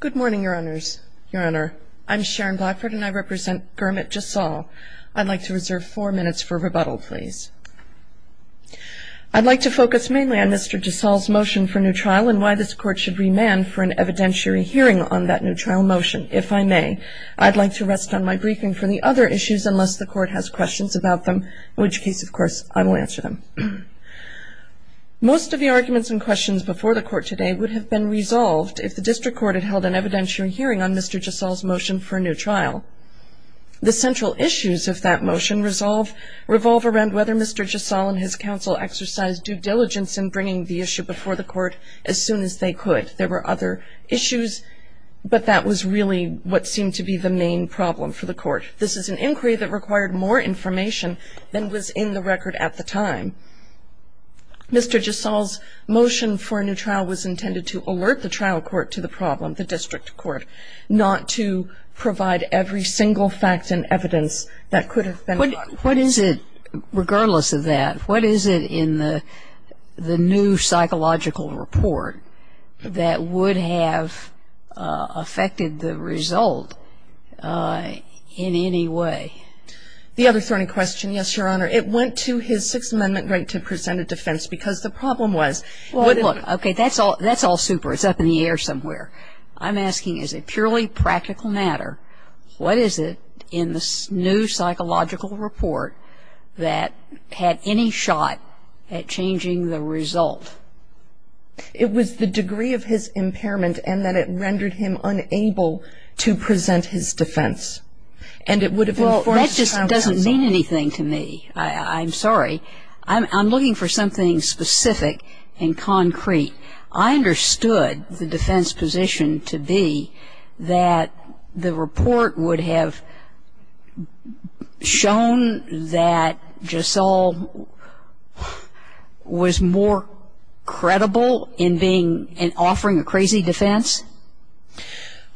Good morning, Your Honors. Your Honor, I'm Sharon Blackford and I represent Gurmit Jassal. I'd like to reserve four minutes for rebuttal, please. I'd like to focus mainly on Mr. Jassal's motion for new trial and why this Court should remand for an evidentiary hearing on that new trial motion, if I may. I'd like to rest on my briefing for the other issues unless the Court has questions about them, in which case, of course, I will answer them. Most of the arguments and questions before the Court today would have been resolved if the District Court had held an evidentiary hearing on Mr. Jassal's motion for a new trial. The central issues of that motion revolve around whether Mr. Jassal and his counsel exercised due diligence in bringing the issue before the Court as soon as they could. There were other issues, but that was really what seemed to be the main problem for the Court. This is an inquiry that required more information than was in the record at the time. Mr. Jassal's motion for a new trial was intended to alert the trial court to the problem, the District Court, not to provide every single fact and evidence that could have been brought forth. What is it, regardless of that, what is it in the new psychological report that would have affected the result in any way? The other thorny question, yes, Your Honor. It went to his Sixth Amendment right to present a defense because the problem was. Look, okay, that's all super. It's up in the air somewhere. I'm asking, is it purely practical matter? What is it in the new psychological report that had any shot at changing the result? It was the degree of his impairment and that it rendered him unable to present his defense. And it would have informed his trial counsel. Well, that just doesn't mean anything to me. I'm sorry. I'm looking for something specific and concrete. I understood the defense position to be that the report would have shown that Jassal was more credible in being, in offering a crazy defense.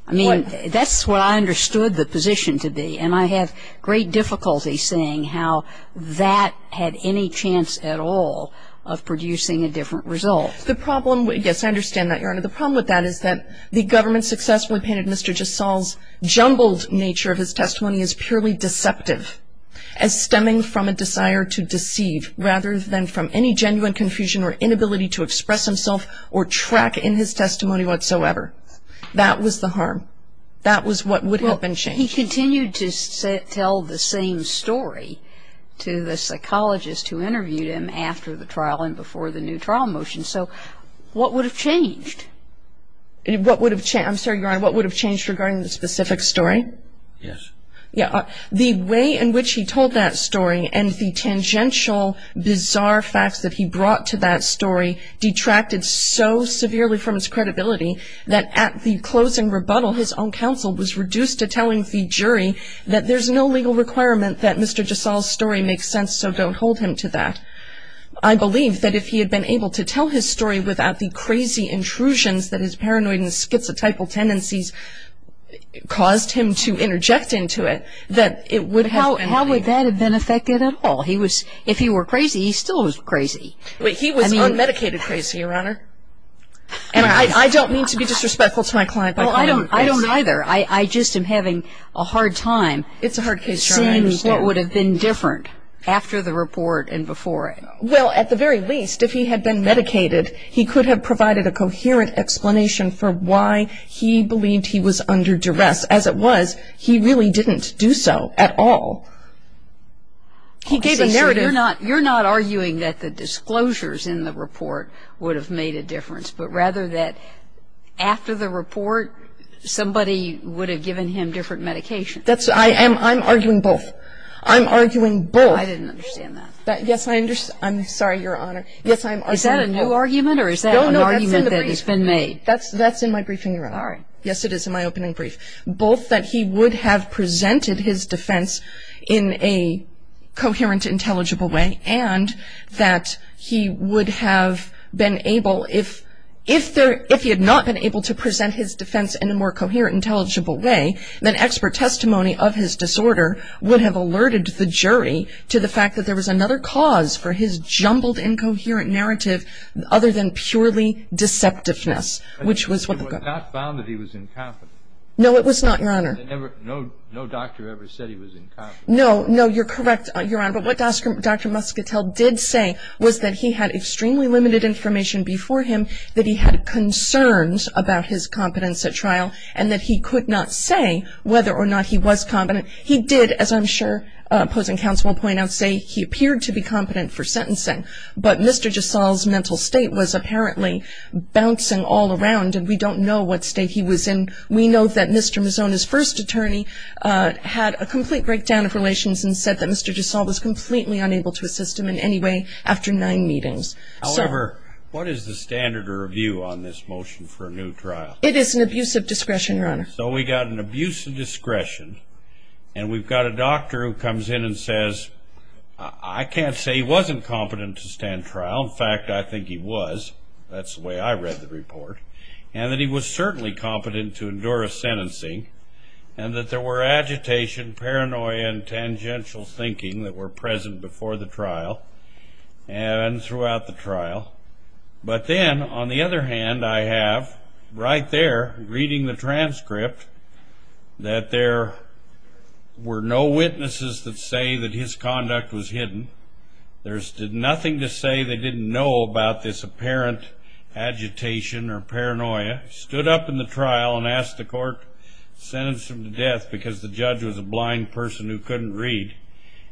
I mean, that's what I understood the position to be. And I have great difficulty seeing how that had any chance at all of producing a different result. The problem, yes, I understand that, Your Honor. The problem with that is that the government successfully painted Mr. Jassal's jumbled nature of his testimony as purely deceptive, as stemming from a desire to deceive rather than from any genuine confusion or inability to express himself or track in his testimony whatsoever. That was the harm. That was what would have been changed. Well, he continued to tell the same story to the psychologist who interviewed him after the trial and before the new trial motion. So what would have changed? What would have changed? I'm sorry, Your Honor, what would have changed regarding the specific story? Yes. The way in which he told that story and the tangential, bizarre facts that he brought to that story detracted so severely from his credibility that at the closing rebuttal his own counsel was reduced to telling the jury that there's no legal requirement that Mr. Jassal's story makes sense, so don't hold him to that. I believe that if he had been able to tell his story without the crazy intrusions that his paranoid and schizotypal tendencies caused him to interject into it, that it would have been legal. But how would that have been affected at all? If he were crazy, he still was crazy. He was unmedicated crazy, Your Honor. And I don't mean to be disrespectful to my client by calling him crazy. Well, I don't either. I just am having a hard time seeing what would have been different after the report and before it. Well, at the very least, if he had been medicated, he could have provided a coherent explanation for why he believed he was under duress. As it was, he really didn't do so at all. He gave us a narrative. You're not arguing that the disclosures in the report would have made a difference, but rather that after the report somebody would have given him different medications. I'm arguing both. I'm arguing both. I didn't understand that. Yes, I understand. I'm sorry, Your Honor. Yes, I'm arguing both. Is that a new argument or is that an argument that has been made? That's in my briefing, Your Honor. All right. Yes, it is in my opening brief. Both that he would have presented his defense in a coherent, intelligible way, and that he would have been able, if he had not been able to present his defense in a more coherent, intelligible way, then expert testimony of his disorder would have alerted the jury to the fact that there was another cause for his jumbled, incoherent narrative other than purely deceptiveness, which was what the government. It was not found that he was incompetent. No, it was not, Your Honor. No doctor ever said he was incompetent. No, no, you're correct, Your Honor. But what Dr. Muscatel did say was that he had extremely limited information before him, that he had concerns about his competence at trial, and that he could not say whether or not he was competent. He did, as I'm sure opposing counsel will point out, say he appeared to be competent for sentencing. But Mr. Gisalle's mental state was apparently bouncing all around, and we don't know what state he was in. We know that Mr. Misono's first attorney had a complete breakdown of relations and said that Mr. Gisalle was completely unable to assist him in any way after nine meetings. However, what is the standard of review on this motion for a new trial? It is an abuse of discretion, Your Honor. So we've got an abuse of discretion, and we've got a doctor who comes in and says, I can't say he wasn't competent to stand trial. In fact, I think he was. That's the way I read the report. And that he was certainly competent to endure a sentencing, and that there were agitation, paranoia, and tangential thinking that were present before the trial and throughout the trial. But then, on the other hand, I have right there, reading the transcript, that there were no witnesses that say that his conduct was hidden. There stood nothing to say they didn't know about this apparent agitation or paranoia. Stood up in the trial and asked the court to sentence him to death because the judge was a blind person who couldn't read.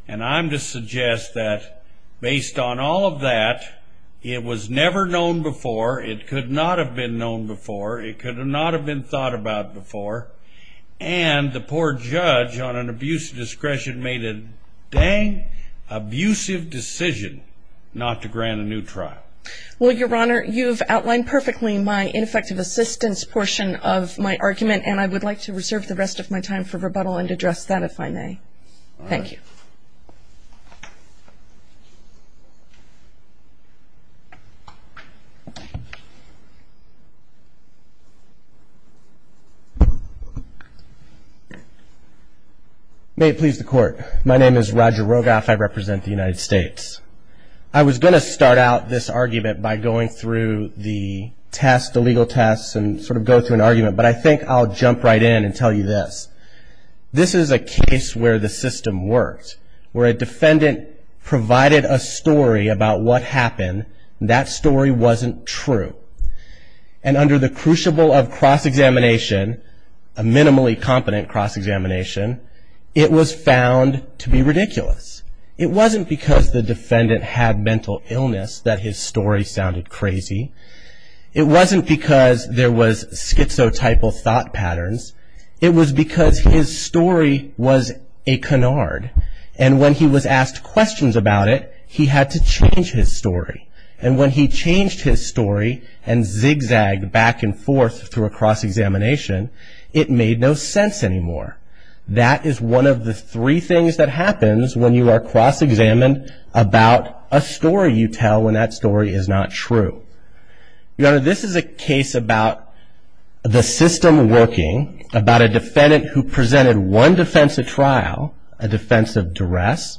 And I'm to suggest that, based on all of that, it was never known before, it could not have been known before, it could not have been thought about before, and the poor judge on an abuse of discretion made a dang abusive decision not to grant a new trial. Well, Your Honor, you've outlined perfectly my ineffective assistance portion of my argument, and I would like to reserve the rest of my time for rebuttal and address that, if I may. Thank you. May it please the Court. My name is Roger Rogoff. I represent the United States. I was going to start out this argument by going through the test, the legal test, and sort of go through an argument, but I think I'll jump right in and tell you this. This is a case where the system works, where a defendant provided a story about what happened, and that story wasn't true. And under the crucible of cross-examination, a minimally competent cross-examination, it was found to be ridiculous. It wasn't because the defendant had mental illness that his story sounded crazy. It wasn't because there was schizotypal thought patterns. It was because his story was a canard, and when he was asked questions about it, he had to change his story. And when he changed his story and zigzagged back and forth through a cross-examination, it made no sense anymore. That is one of the three things that happens when you are cross-examined about a story you tell when that story is not true. Your Honor, this is a case about the system working, about a defendant who presented one defense at trial, a defense of duress.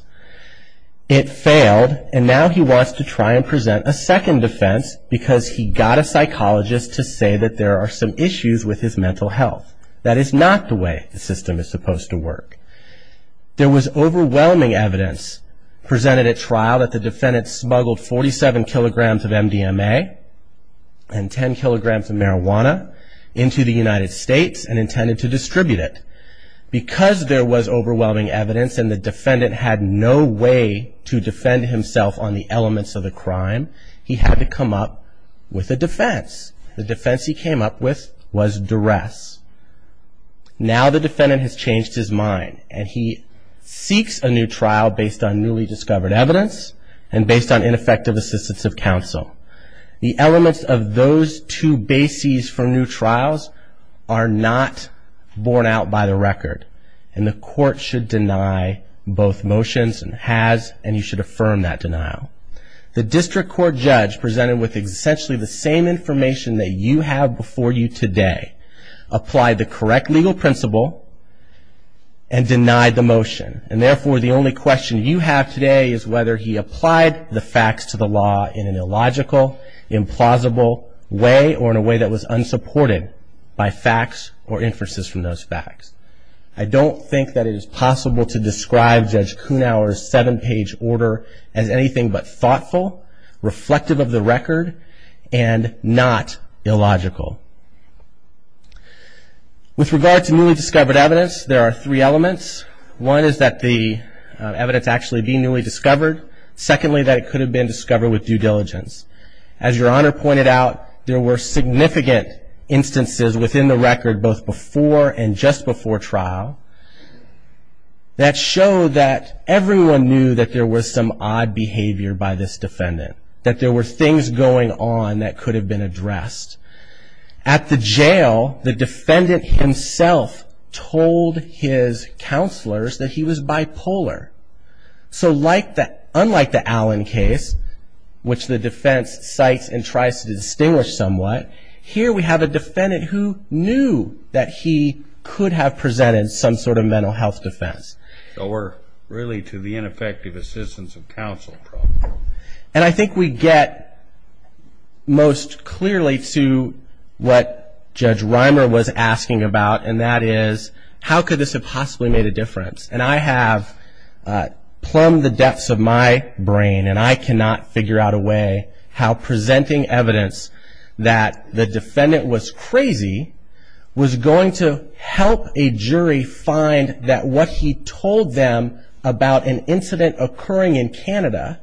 It failed, and now he wants to try and present a second defense because he got a psychologist to say that there are some issues with his mental health. That is not the way the system is supposed to work. There was overwhelming evidence presented at trial that the defendant smuggled 47 kilograms of MDMA and 10 kilograms of marijuana into the United States and intended to distribute it. Because there was overwhelming evidence and the defendant had no way to defend himself on the elements of the crime, he had to come up with a defense. The defense he came up with was duress. Now the defendant has changed his mind and he seeks a new trial based on newly discovered evidence and based on ineffective assistance of counsel. The elements of those two bases for new trials are not borne out by the record, and the court should deny both motions and has, and you should affirm that denial. The district court judge presented with essentially the same information that you have before you today, applied the correct legal principle and denied the motion. And therefore, the only question you have today is whether he applied the facts to the law in an illogical, implausible way or in a way that was unsupported by facts or inferences from those facts. I don't think that it is possible to describe Judge Kuhnauer's seven-page order as anything but thoughtful, reflective of the record, and not illogical. With regard to newly discovered evidence, there are three elements. One is that the evidence actually be newly discovered. Secondly, that it could have been discovered with due diligence. As Your Honor pointed out, there were significant instances within the record, both before and just before trial, that showed that everyone knew that there was some odd behavior by this defendant, that there were things going on that could have been addressed. At the jail, the defendant himself told his counselors that he was bipolar. So unlike the Allen case, which the defense cites and tries to distinguish somewhat, here we have a defendant who knew that he could have presented some sort of mental health defense. So we're really to the ineffective assistance of counsel problem. And I think we get most clearly to what Judge Reimer was asking about, and that is how could this have possibly made a difference? And I have plumbed the depths of my brain, and I cannot figure out a way how presenting evidence that the defendant was crazy was going to help a jury find that what he told them about an incident occurring in Canada,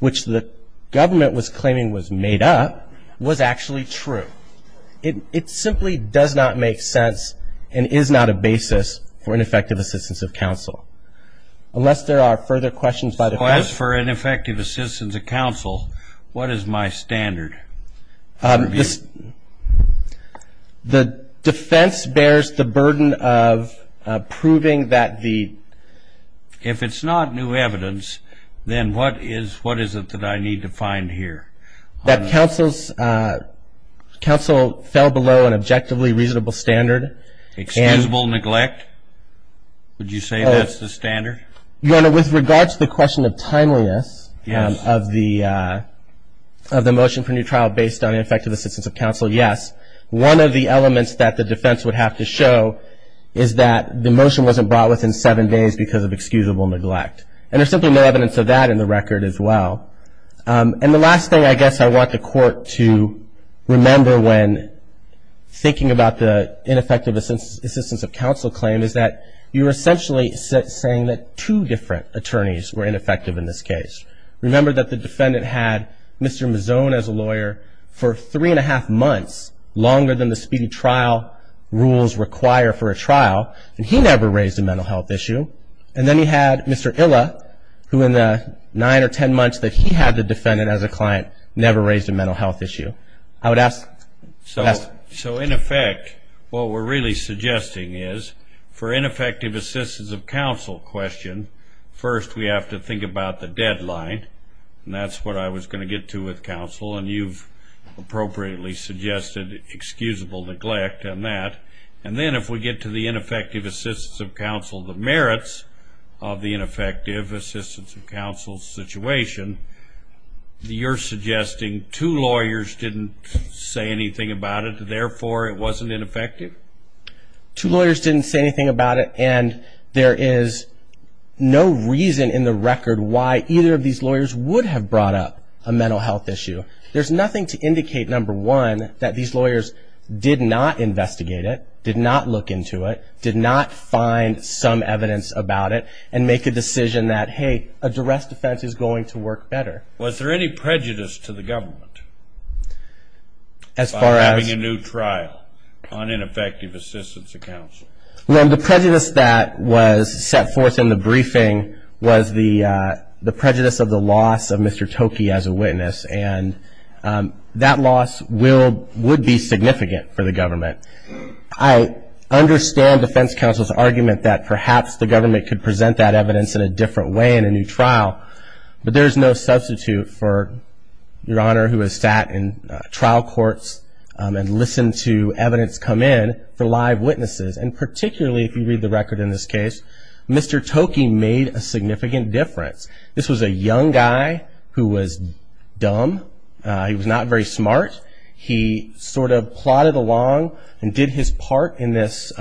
which the government was claiming was made up, was actually true. It simply does not make sense and is not a basis for ineffective assistance of counsel. Unless there are further questions by the court. As for ineffective assistance of counsel, what is my standard? The defense bears the burden of proving that the- If it's not new evidence, then what is it that I need to find here? That counsel fell below an objectively reasonable standard. Excusable neglect? Would you say that's the standard? Your Honor, with regard to the question of timeliness of the motion for new trial based on ineffective assistance of counsel, yes. One of the elements that the defense would have to show is that the motion wasn't brought within seven days because of excusable neglect. And there's simply no evidence of that in the record as well. And the last thing I guess I want the court to remember when thinking about the ineffective assistance of counsel claim is that you're essentially saying that two different attorneys were ineffective in this case. Remember that the defendant had Mr. Mazzone as a lawyer for three and a half months, longer than the speedy trial rules require for a trial, and he never raised a mental health issue. And then you had Mr. Illa, who in the nine or ten months that he had the defendant as a client, never raised a mental health issue. I would ask- So in effect, what we're really suggesting is for ineffective assistance of counsel question, first we have to think about the deadline, and that's what I was going to get to with counsel. And you've appropriately suggested excusable neglect on that. And then if we get to the ineffective assistance of counsel, the merits of the ineffective assistance of counsel situation, you're suggesting two lawyers didn't say anything about it, therefore it wasn't ineffective? Two lawyers didn't say anything about it, and there is no reason in the record why either of these lawyers would have brought up a mental health issue. There's nothing to indicate, number one, that these lawyers did not investigate it, did not look into it, did not find some evidence about it, and make a decision that, hey, a duress defense is going to work better. Was there any prejudice to the government- As far as- Having a new trial on ineffective assistance of counsel? Well, the prejudice that was set forth in the briefing was the prejudice of the loss of Mr. Toki as a witness, and that loss would be significant for the government. I understand defense counsel's argument that perhaps the government could present that evidence in a different way in a new trial, but there's no substitute for Your Honor, who has sat in trial courts and listened to evidence come in for live witnesses, and particularly if you read the record in this case, Mr. Toki made a significant difference. This was a young guy who was dumb. He was not very smart. He sort of plotted along and did his part in this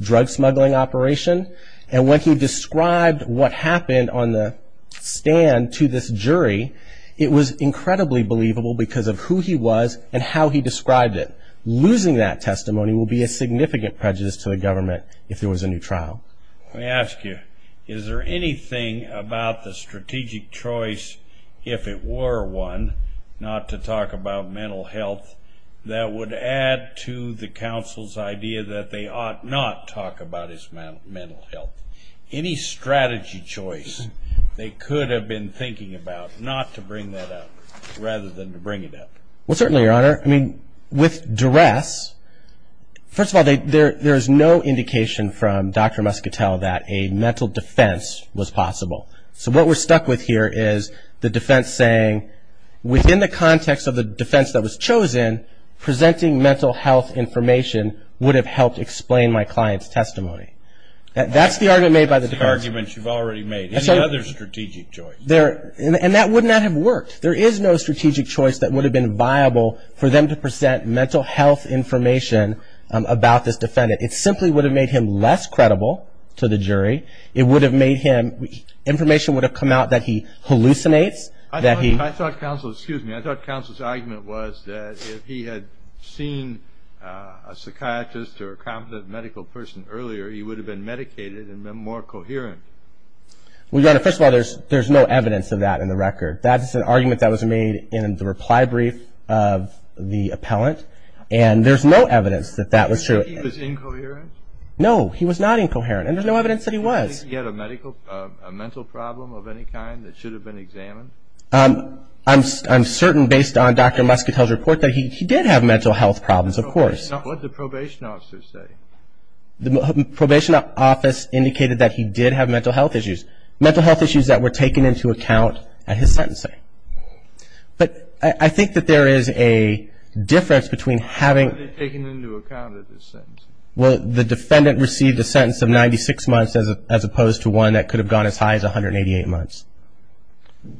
drug smuggling operation, and when he described what happened on the stand to this jury, it was incredibly believable because of who he was and how he described it. Losing that testimony will be a significant prejudice to the government if there was a new trial. Let me ask you, is there anything about the strategic choice, if it were one, not to talk about mental health, that would add to the counsel's idea that they ought not talk about his mental health? Any strategy choice they could have been thinking about not to bring that up rather than to bring it up? Well, certainly, Your Honor. With duress, first of all, there is no indication from Dr. Muscatel that a mental defense was possible. So what we're stuck with here is the defense saying, within the context of the defense that was chosen, presenting mental health information would have helped explain my client's testimony. That's the argument made by the defense. That's the argument you've already made. Any other strategic choice? And that would not have worked. There is no strategic choice that would have been viable for them to present mental health information about this defendant. It simply would have made him less credible to the jury. It would have made him, information would have come out that he hallucinates. I thought counsel's argument was that if he had seen a psychiatrist or a competent medical person earlier, he would have been medicated and been more coherent. Well, Your Honor, first of all, there's no evidence of that in the record. That is an argument that was made in the reply brief of the appellant. And there's no evidence that that was true. But you're saying he was incoherent? No, he was not incoherent. And there's no evidence that he was. Do you think he had a mental problem of any kind that should have been examined? I'm certain, based on Dr. Muscatel's report, that he did have mental health problems, of course. What did the probation officer say? The probation office indicated that he did have mental health issues, mental health issues that were taken into account at his sentencing. But I think that there is a difference between having the defendant receive the sentence of 96 months as opposed to one that could have gone as high as 188 months.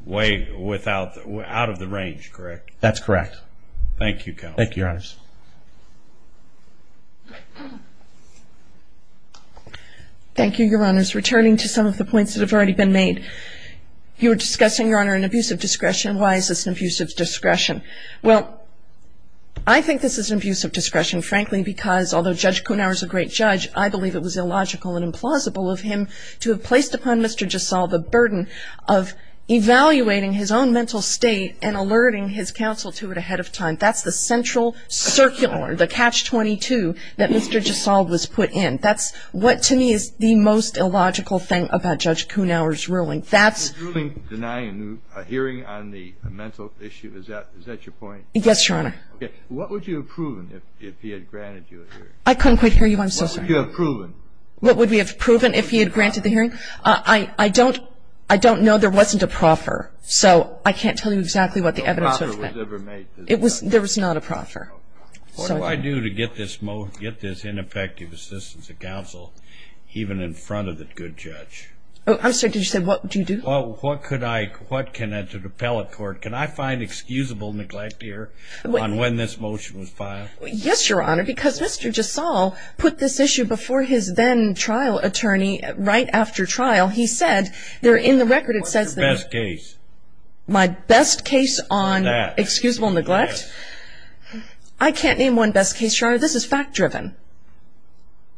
Way out of the range, correct? That's correct. Thank you, counsel. Thank you, Your Honors. Thank you, Your Honors. Returning to some of the points that have already been made. You were discussing, Your Honor, an abuse of discretion. Why is this an abuse of discretion? Well, I think this is an abuse of discretion, frankly, because although Judge Kuhnhauer is a great judge, I believe it was illogical and implausible of him to have placed upon Mr. Giselle the burden of evaluating his own mental state and alerting his counsel to it ahead of time. And I don't know that there was any proof that Mr. Giselle was put in. That's what to me is the most illogical thing about Judge Kuhnhauer's ruling. That's the most illogical thing about Judge Kuhnhauer's ruling. He was ruling denying a hearing on the mental issue. Is that your point? Yes, Your Honor. What would you have proven if he had granted you a hearing? I couldn't quite hear you. I'm so sorry. What would you have proven? What would we have proven if he had granted the hearing? I don't know. There wasn't a proffer. So I can't tell you exactly what the evidence would have been. No proffer was ever made. There was not a proffer. What do I do to get this ineffective assistance of counsel even in front of the good judge? I'm sorry. Did you say what do you do? What can I do to the appellate court? Can I find excusable neglect here on when this motion was filed? Yes, Your Honor, because Mr. Giselle put this issue before his then-trial attorney right after trial. He said they're in the record. What's your best case? My best case on excusable neglect? Yes. I can't name one best case, Your Honor. This is fact-driven.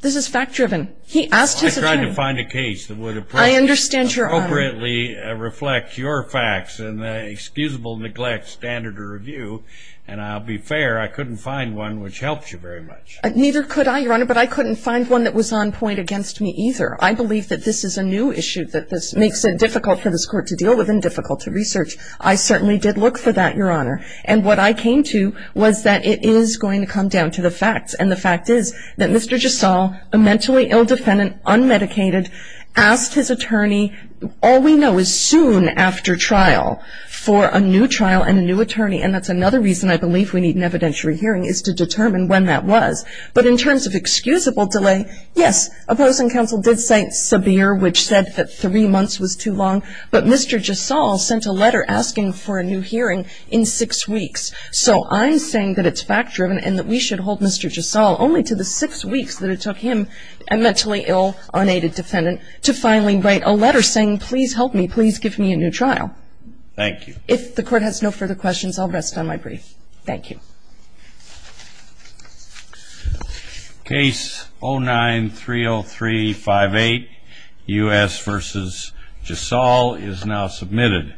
This is fact-driven. He asked his attorney. I tried to find a case that would appropriately reflect your facts and the excusable neglect standard of review, and I'll be fair, I couldn't find one which helped you very much. Neither could I, Your Honor, but I couldn't find one that was on point against me either. I believe that this is a new issue, that this makes it difficult for this Court to deal with and difficult to research. I certainly did look for that, Your Honor, and what I came to was that it is going to come down to the facts, and the fact is that Mr. Giselle, a mentally ill defendant, unmedicated, asked his attorney all we know is soon after trial for a new trial and a new attorney, and that's another reason I believe we need an evidentiary hearing is to determine when that was. But in terms of excusable delay, yes, opposing counsel did cite Sabir, which said that three months was too long, but Mr. Giselle sent a letter asking for a new hearing in six weeks. So I'm saying that it's fact-driven and that we should hold Mr. Giselle only to the six weeks that it took him, a mentally ill, unaided defendant, to finally write a letter saying please help me, please give me a new trial. Thank you. If the Court has no further questions, I'll rest on my brief. Thank you. Case 09-30358, U.S. v. Giselle is now submitted.